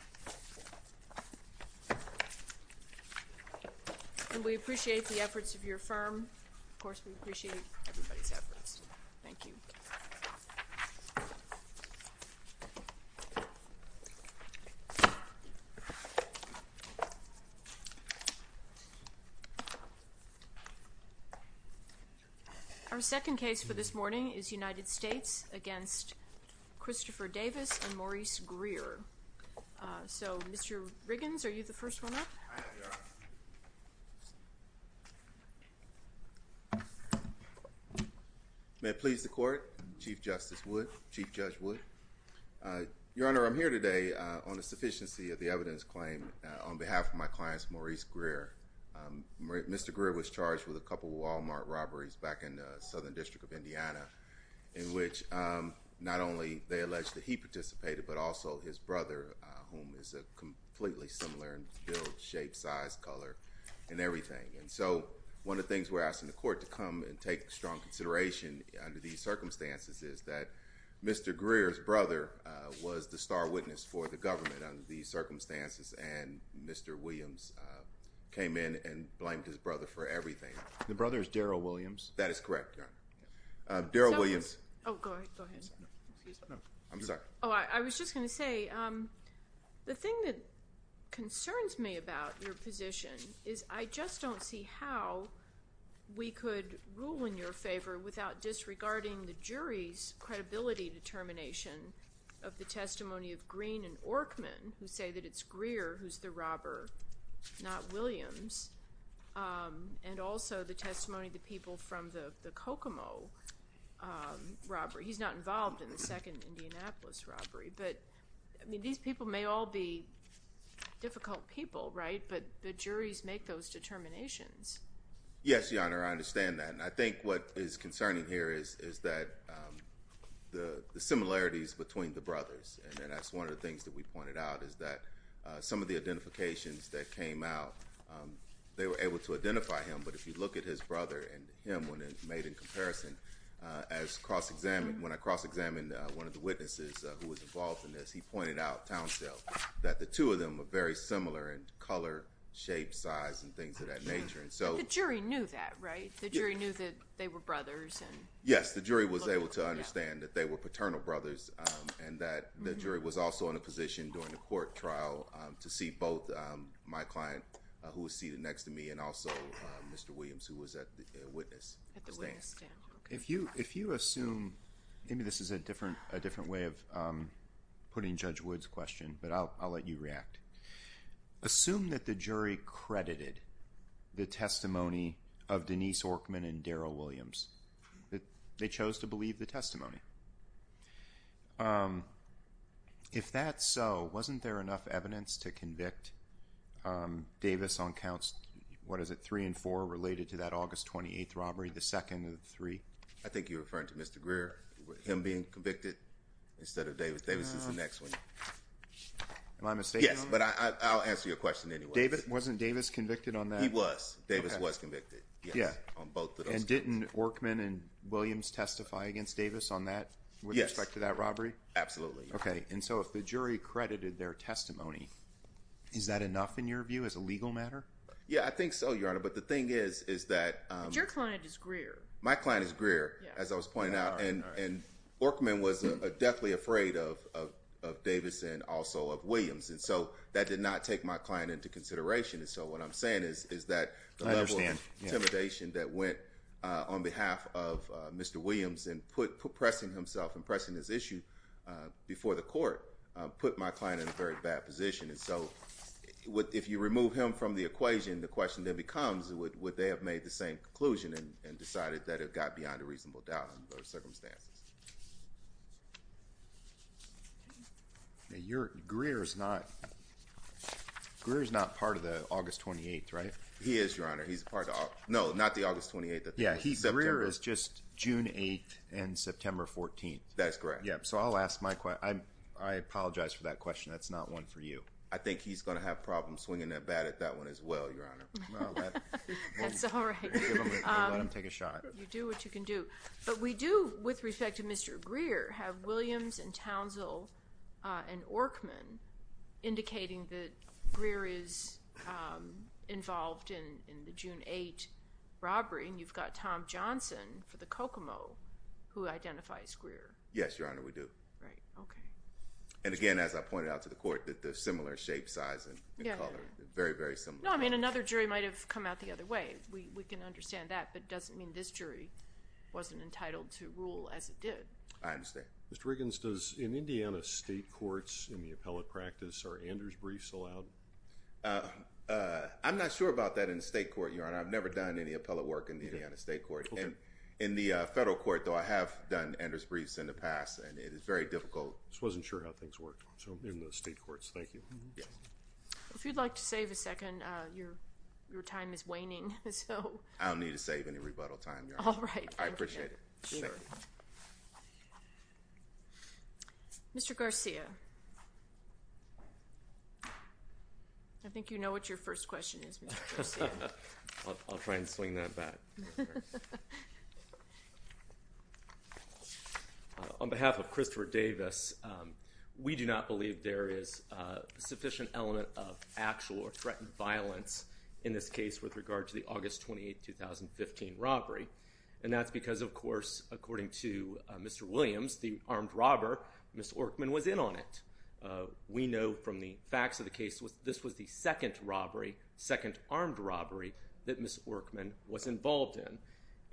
and Maurice Greer, and we appreciate the efforts of your firm, of course we appreciate everybody's efforts. Thank you. Our second case for this morning is United States v. Christopher Davis and Maurice Greer. So Mr. Riggins, are you the first one up? I am, Your Honor. May it please the court, Chief Justice Wood, Chief Judge Wood. Your Honor, I'm here today on the sufficiency of the evidence claim on behalf of my clients Maurice Greer. Mr. Greer was charged with a couple Walmart robberies back in the Southern District of Indiana in which not only they alleged that he participated but also his brother, whom is a completely similar in build, shape, size, color, and everything. And so one of the things we're asking the court to come and take strong consideration under these circumstances is that Mr. Greer's brother was the star witness for the government under these circumstances and Mr. Williams came in and blamed his brother for everything. The brother is correct, Your Honor. Daryl Williams. I was just going to say, the thing that concerns me about your position is I just don't see how we could rule in your favor without disregarding the jury's credibility determination of the testimony of Green and Orkman, who say that it's Greer who's the robber, not the Kokomo robbery. He's not involved in the second Indianapolis robbery, but I mean these people may all be difficult people, right, but the juries make those determinations. Yes, Your Honor, I understand that and I think what is concerning here is is that the similarities between the brothers and that's one of the things that we pointed out is that some of the identifications that came out, they were able to identify him, but if you look at his brother and him when it's made in comparison, as cross-examined, when I cross-examined one of the witnesses who was involved in this, he pointed out, Townsdale, that the two of them are very similar in color, shape, size, and things of that nature and so... The jury knew that, right? The jury knew that they were brothers? Yes, the jury was able to understand that they were paternal brothers and that the jury was also in a position during the If you assume... maybe this is a different way of putting Judge Wood's question, but I'll let you react. Assume that the jury credited the testimony of Denise Orkman and Daryl Williams, that they chose to believe the testimony. If that's so, wasn't there enough evidence to convict Davis on counts... what is it? Was it three and four related to that August 28th robbery, the second of the three? I think you're referring to Mr. Greer, him being convicted instead of Davis. Davis is the next one. Am I mistaken? Yes, but I'll answer your question anyway. Wasn't Davis convicted on that? He was. Davis was convicted. Yeah. On both of those cases. And didn't Orkman and Williams testify against Davis on that? Yes. With respect to that robbery? Absolutely. Okay, and so if the jury credited their testimony, is that enough in your view as a legal matter? Yeah, I think so, Your Honor. But the thing is, is that... But your client is Greer. My client is Greer, as I was pointing out. And Orkman was deathly afraid of Davis and also of Williams. And so, that did not take my client into consideration. And so, what I'm saying is that... I understand.... that went on behalf of Mr. Williams and pressing himself and pressing his issue before the court put my client in a very bad position. And so, if you remove him from the equation, the question then becomes, would they have made the same conclusion and decided that it got beyond a reasonable doubt under those circumstances? Greer is not part of the August 28th, right? He is, Your Honor. He's part of... No, not the August 28th. Yeah, he's... Greer is just June 8th and September 14th. That's correct. Yeah, so I'll ask my... I apologize for that question. That's not one for you. I think he's going to have problems swinging that bat at that one as well, Your Honor. That's all right. Let him take a shot. You do what you can do. But we do, with respect to Mr. Greer, have Williams and Townsville and Orkman indicating that Greer is involved in the June 8th robbery. And you've got Tom Johnson for the Kokomo who identifies Greer. Yes, Your Honor, we do. Right, okay. And again, as I pointed out to the court, that the similar shape, size, and color. Yeah. Very, very similar. No, I mean, another jury might have come out the other way. We can understand that, but it doesn't mean this jury wasn't entitled to rule as it did. I understand. Mr. Riggins, does... in Indiana state courts, in the appellate practice, are Anders briefs allowed? I'm not sure about that in the state court, Your Honor. I've never done any appellate work in the Indiana state court. Okay. In the federal court, though, I have done Anders briefs in the past, and it is very difficult. Just wasn't sure how things worked in the state courts. Thank you. Yes. If you'd like to save a second, your time is waning, so... I don't need to save any rebuttal time, Your Honor. All right. I appreciate it. Mr. Garcia, I think you know what your first question is, Mr. Garcia. I'll try and swing that back. All right. On behalf of Christopher Davis, we do not believe there is sufficient element of actual or threatened violence in this case with regard to the August 28, 2015 robbery. And that's because, of course, according to Mr. Williams, the armed robber, Ms. Orkman, was in on it. We know from the facts of the case this was the second robbery, second armed robbery, that Ms. Orkman was involved in.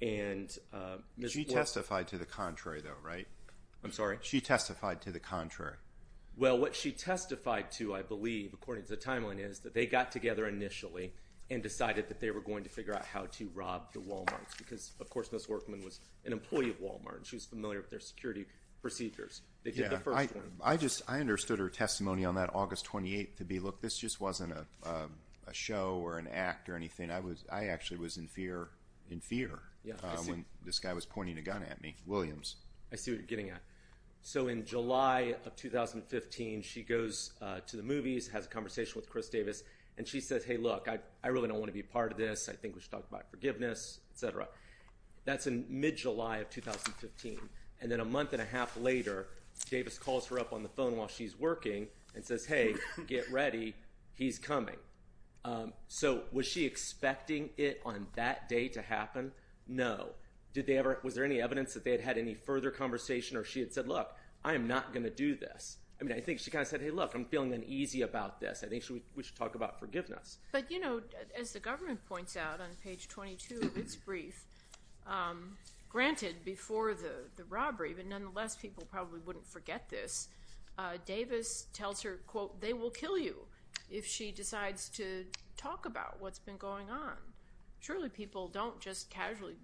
And Ms. Orkman... She testified to the contrary, though, right? I'm sorry? She testified to the contrary. Well, what she testified to, I believe, according to the timeline, is that they got together initially and decided that they were going to figure out how to rob the Walmarts. Because, of course, Ms. Orkman was an employee of Walmart, and she was familiar with their security procedures. They did the first one. I understood her testimony on that August 28 to be, look, this just wasn't a show or an act or anything. I actually was in fear when this guy was pointing a gun at me, Williams. I see what you're getting at. So in July of 2015, she goes to the movies, has a conversation with Chris Davis, and she says, hey, look, I really don't want to be a part of this. I think we should talk about forgiveness, et cetera. That's in mid-July of 2015. And then a month and a half later, Davis calls her up on the phone while she's working and says, hey, get ready, he's coming. So was she expecting it on that day to happen? No. Was there any evidence that they had had any further conversation or she had said, look, I am not going to do this? I mean, I think she kind of said, hey, look, I'm feeling uneasy about this. I think we should talk about forgiveness. But, you know, as the government points out on page 22 of its brief, granted, before the robbery, but nonetheless people probably wouldn't forget this, Davis tells her, quote, they will kill you if she decides to talk about what's been going on. Surely people don't just casually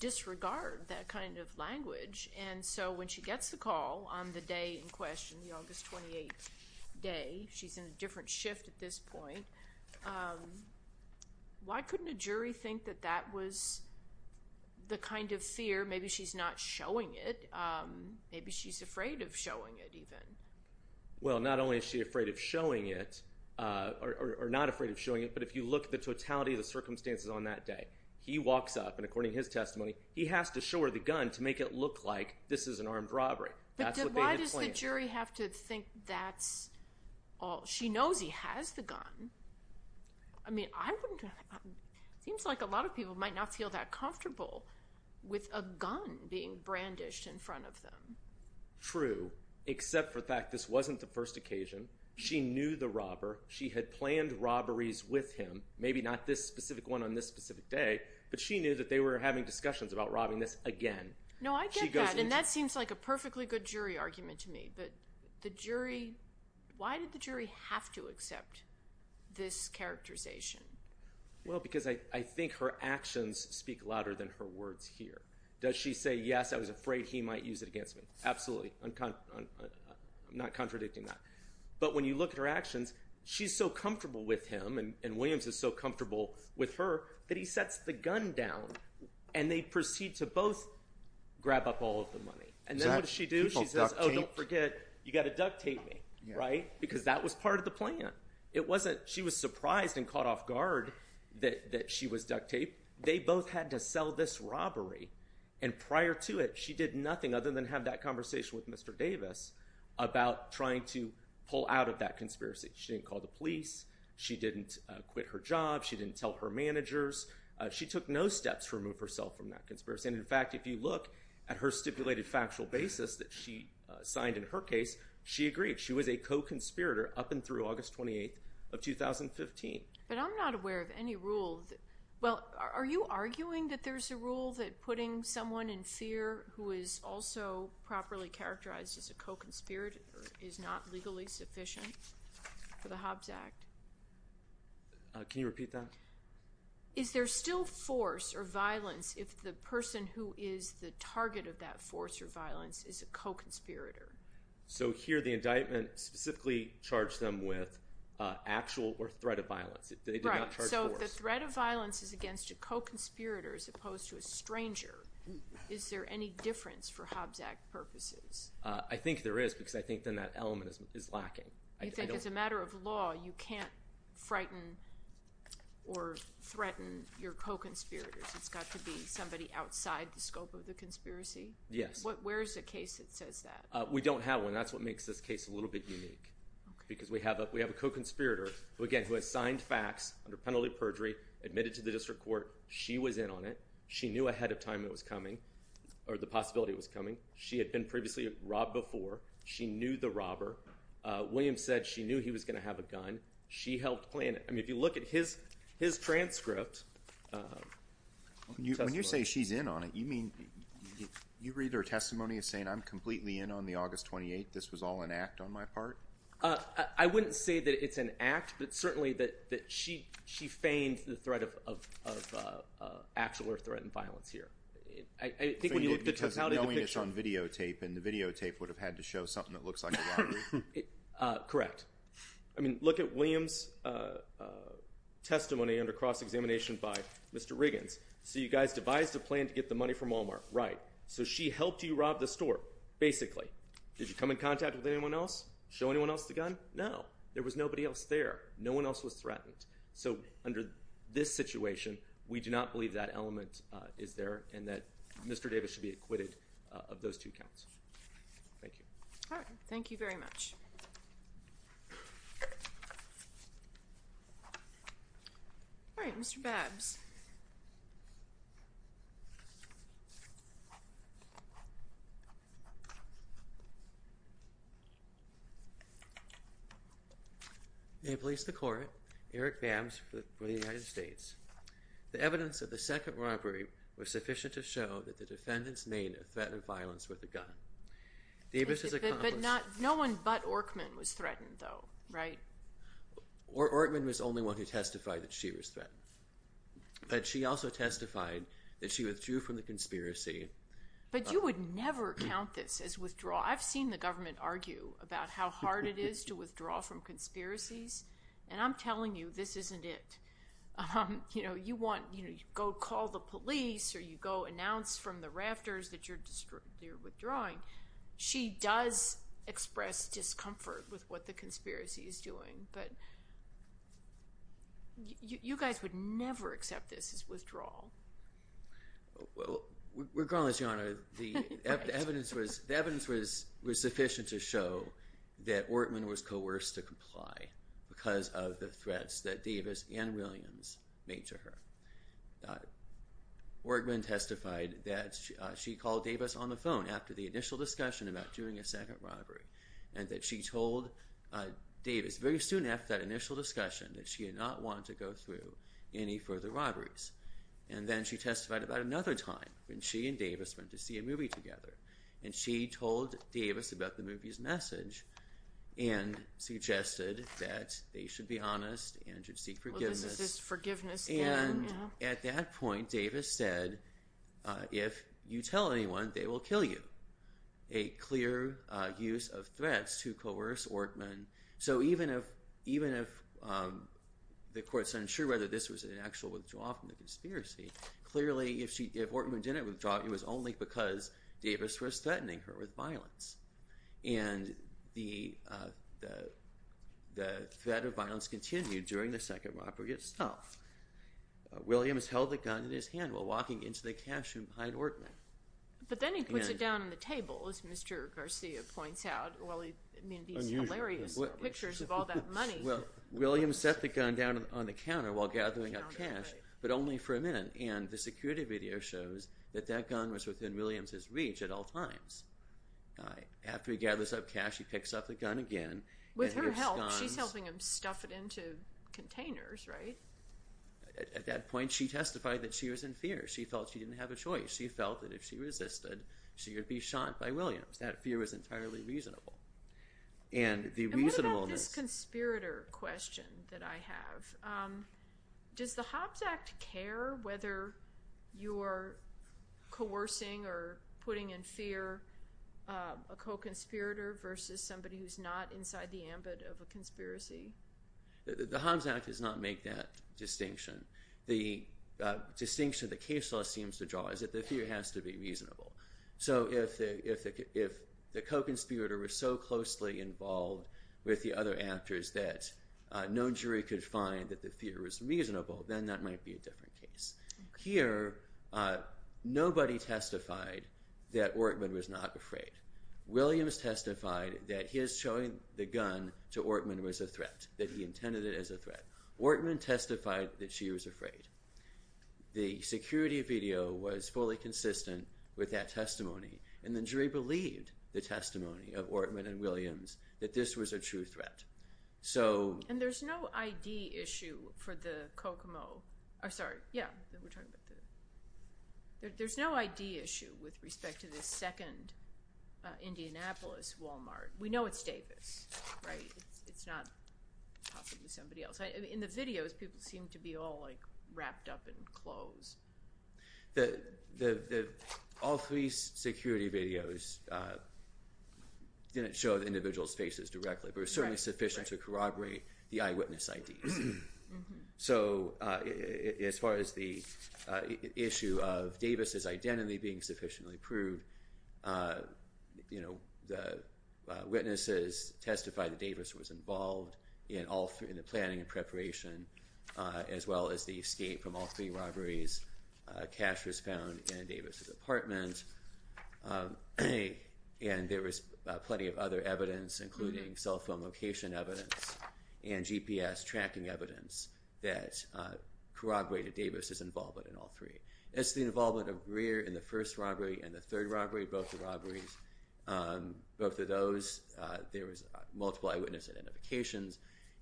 disregard that kind of language. And so when she gets the call on the day in question, the August 28th day, she's in a different shift at this point. Why couldn't a jury think that that was the kind of fear? Maybe she's not showing it. Maybe she's afraid of showing it even. Well, not only is she afraid of showing it or not afraid of showing it, but if you look at the totality of the circumstances on that day, he walks up, and according to his testimony, he has to show her the gun to make it look like this is an armed robbery. That's what they had planned. But why does the jury have to think that's all? She knows he has the gun. I mean, I wouldn't – it seems like a lot of people might not feel that comfortable with a gun being brandished in front of them. True, except for the fact this wasn't the first occasion. She knew the robber. She had planned robberies with him, maybe not this specific one on this specific day, but she knew that they were having discussions about robbing this again. No, I get that, and that seems like a perfectly good jury argument to me. But the jury – why did the jury have to accept this characterization? Well, because I think her actions speak louder than her words here. Does she say, yes, I was afraid he might use it against me? Absolutely. I'm not contradicting that. But when you look at her actions, she's so comfortable with him and Williams is so comfortable with her that he sets the gun down, and they proceed to both grab up all of the money. And then what does she do? She says, oh, don't forget, you've got to duct tape me, right? Because that was part of the plan. It wasn't – she was surprised and caught off guard that she was duct taped. They both had to sell this robbery, and prior to it she did nothing other than have that conversation with Mr. Davis about trying to pull out of that conspiracy. She didn't call the police. She didn't quit her job. She didn't tell her managers. She took no steps to remove herself from that conspiracy. And, in fact, if you look at her stipulated factual basis that she signed in her case, she agreed. She was a co-conspirator up and through August 28th of 2015. But I'm not aware of any rule that – well, are you arguing that there's a rule that putting someone in fear who is also properly characterized as a co-conspirator is not legally sufficient for the Hobbs Act? Can you repeat that? Is there still force or violence if the person who is the target of that force or violence is a co-conspirator? So here the indictment specifically charged them with actual or threat of violence. They did not charge force. If the threat of violence is against a co-conspirator as opposed to a stranger, is there any difference for Hobbs Act purposes? I think there is because I think then that element is lacking. You think as a matter of law you can't frighten or threaten your co-conspirators. It's got to be somebody outside the scope of the conspiracy? Yes. Where is the case that says that? We don't have one. That's what makes this case a little bit unique because we have a co-conspirator, again, who has signed facts under penalty of perjury, admitted to the district court. She was in on it. She knew ahead of time it was coming or the possibility it was coming. She had been previously robbed before. She knew the robber. William said she knew he was going to have a gun. She helped plan it. I mean if you look at his transcript. When you say she's in on it, you mean you read her testimony as saying I'm completely in on the August 28th, this was all an act on my part? I wouldn't say that it's an act, but certainly that she feigned the threat of actual or threatened violence here. I think when you look at the totality of the picture. Because knowing it's on videotape and the videotape would have had to show something that looks like a robbery? Correct. I mean look at William's testimony under cross-examination by Mr. Riggins. So you guys devised a plan to get the money from Walmart, right. So she helped you rob the store, basically. Did you come in contact with anyone else? Show anyone else the gun? No. There was nobody else there. No one else was threatened. So under this situation, we do not believe that element is there and that Mr. Davis should be acquitted of those two counts. Thank you. All right. Thank you very much. All right. Mr. Babbs. May it please the Court, Eric Babbs for the United States. The evidence of the second robbery was sufficient to show that the defendants made a threat of violence with a gun. Davis has accomplished. But no one but Orkman was threatened though, right? Orkman was the only one who testified that she was threatened. But she also testified that she withdrew from the conspiracy. But you would never count this as withdrawal. I've seen the government argue about how hard it is to withdraw from conspiracies, and I'm telling you this isn't it. You know, you go call the police or you go announce from the rafters that you're withdrawing. She does express discomfort with what the conspiracy is doing. But you guys would never accept this as withdrawal. Well, regardless, Your Honor, the evidence was sufficient to show that Orkman was coerced to comply because of the threats that Davis and Williams made to her. Orkman testified that she called Davis on the phone after the initial discussion about doing a second robbery and that she told Davis very soon after that initial discussion that she did not want to go through any further robberies. And then she testified about another time when she and Davis went to see a movie together, and she told Davis about the movie's message and suggested that they should be honest and should seek forgiveness. And at that point, Davis said, if you tell anyone, they will kill you. A clear use of threats to coerce Orkman. So even if the court's unsure whether this was an actual withdrawal from the conspiracy, clearly if Orkman didn't withdraw, it was only because Davis was threatening her with violence. And the threat of violence continued during the second robbery itself. Williams held the gun in his hand while walking into the cash room behind Orkman. But then he puts it down on the table, as Mr. Garcia points out. I mean, these hilarious pictures of all that money. Well, Williams set the gun down on the counter while gathering up cash, but only for a minute. And the security video shows that that gun was within Williams' reach at all times. After he gathers up cash, he picks up the gun again. With her help, she's helping him stuff it into containers, right? At that point, she testified that she was in fear. She felt she didn't have a choice. She felt that if she resisted, she would be shot by Williams. That fear was entirely reasonable. And what about this conspirator question that I have? Does the Hobbs Act care whether you're coercing or putting in fear a co-conspirator versus somebody who's not inside the ambit of a conspiracy? The Hobbs Act does not make that distinction. The distinction the case law seems to draw is that the fear has to be reasonable. So if the co-conspirator was so closely involved with the other actors that no jury could find that the fear was reasonable, then that might be a different case. Here, nobody testified that Ortman was not afraid. Williams testified that his showing the gun to Ortman was a threat, that he intended it as a threat. Ortman testified that she was afraid. The security video was fully consistent with that testimony, and the jury believed the testimony of Ortman and Williams that this was a true threat. And there's no ID issue for the Kokomo. Sorry, yeah. There's no ID issue with respect to the second Indianapolis Walmart. We know it's Davis, right? It's not possibly somebody else. In the videos, people seem to be all, like, wrapped up in clothes. All three security videos didn't show the individual's faces directly, but were certainly sufficient to corroborate the eyewitness IDs. So as far as the issue of Davis' identity being sufficiently proved, the witnesses testified that Davis was involved in the planning and preparation, as well as the escape from all three robberies. Cash was found in Davis' apartment. And there was plenty of other evidence, including cell phone location evidence and GPS tracking evidence that corroborated Davis' involvement in all three. As to the involvement of Greer in the first robbery and the third robbery, both the robberies, both of those, there was multiple eyewitness identifications,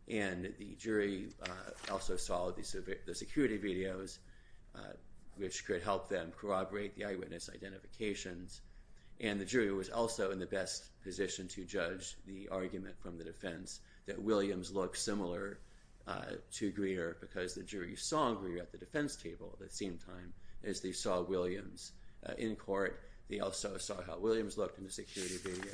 and the jury also saw the security videos, which could help them corroborate the eyewitness identifications. And the jury was also in the best position to judge the argument from the defense that Williams looked similar to Greer because the jury saw Greer at the defense table at the same time as they saw Williams in court. They also saw how Williams looked in the security video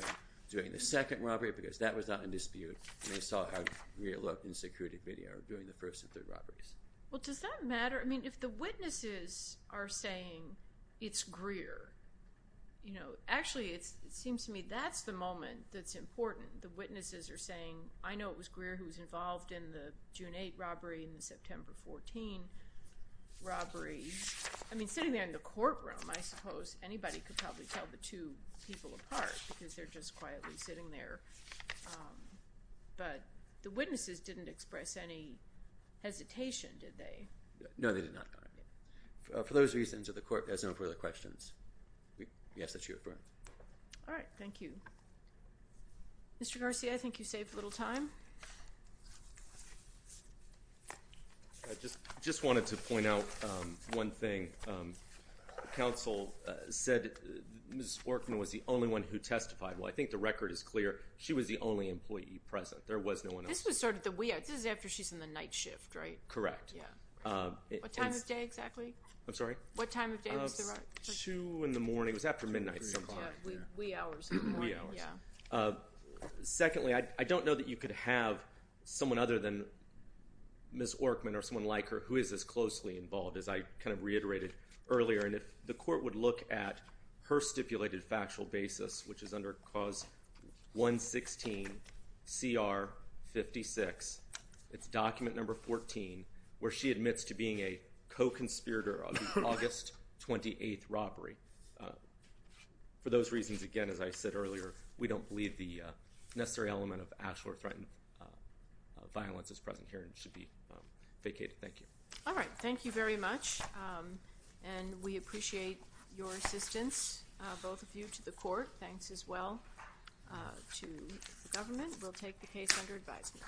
during the second robbery because that was not in dispute, and they saw how Greer looked in the security video during the first and third robberies. Well, does that matter? I mean, if the witnesses are saying it's Greer, you know, actually it seems to me that's the moment that's important. The witnesses are saying, I know it was Greer who was involved in the June 8th robbery and the September 14th robbery. I mean, sitting there in the courtroom, I suppose anybody could probably tell the two people apart because they're just quietly sitting there. But the witnesses didn't express any hesitation, did they? No, they did not. For those reasons, if the court has no further questions, we ask that you affirm. All right. Thank you. Mr. Garcia, I think you saved a little time. I just wanted to point out one thing. Counsel said Ms. Sporkman was the only one who testified. Well, I think the record is clear. She was the only employee present. There was no one else. This was sort of the wee hours. This is after she's in the night shift, right? Correct. What time of day exactly? I'm sorry? What time of day was the right? Two in the morning. It was after midnight some time. Yeah, wee hours in the morning. Wee hours. Yeah. Secondly, I don't know that you could have someone other than Ms. Orkman or someone like her who is as closely involved as I kind of reiterated earlier. And if the court would look at her stipulated factual basis, which is under clause 116CR56, it's document number 14, where she admits to being a co-conspirator of the August 28th robbery. For those reasons, again, as I said earlier, we don't believe the necessary element of actual or threatened violence is present here and should be vacated. Thank you. All right. Thank you very much. And we appreciate your assistance, both of you, to the court. Thanks as well to the government. We'll take the case under advisement.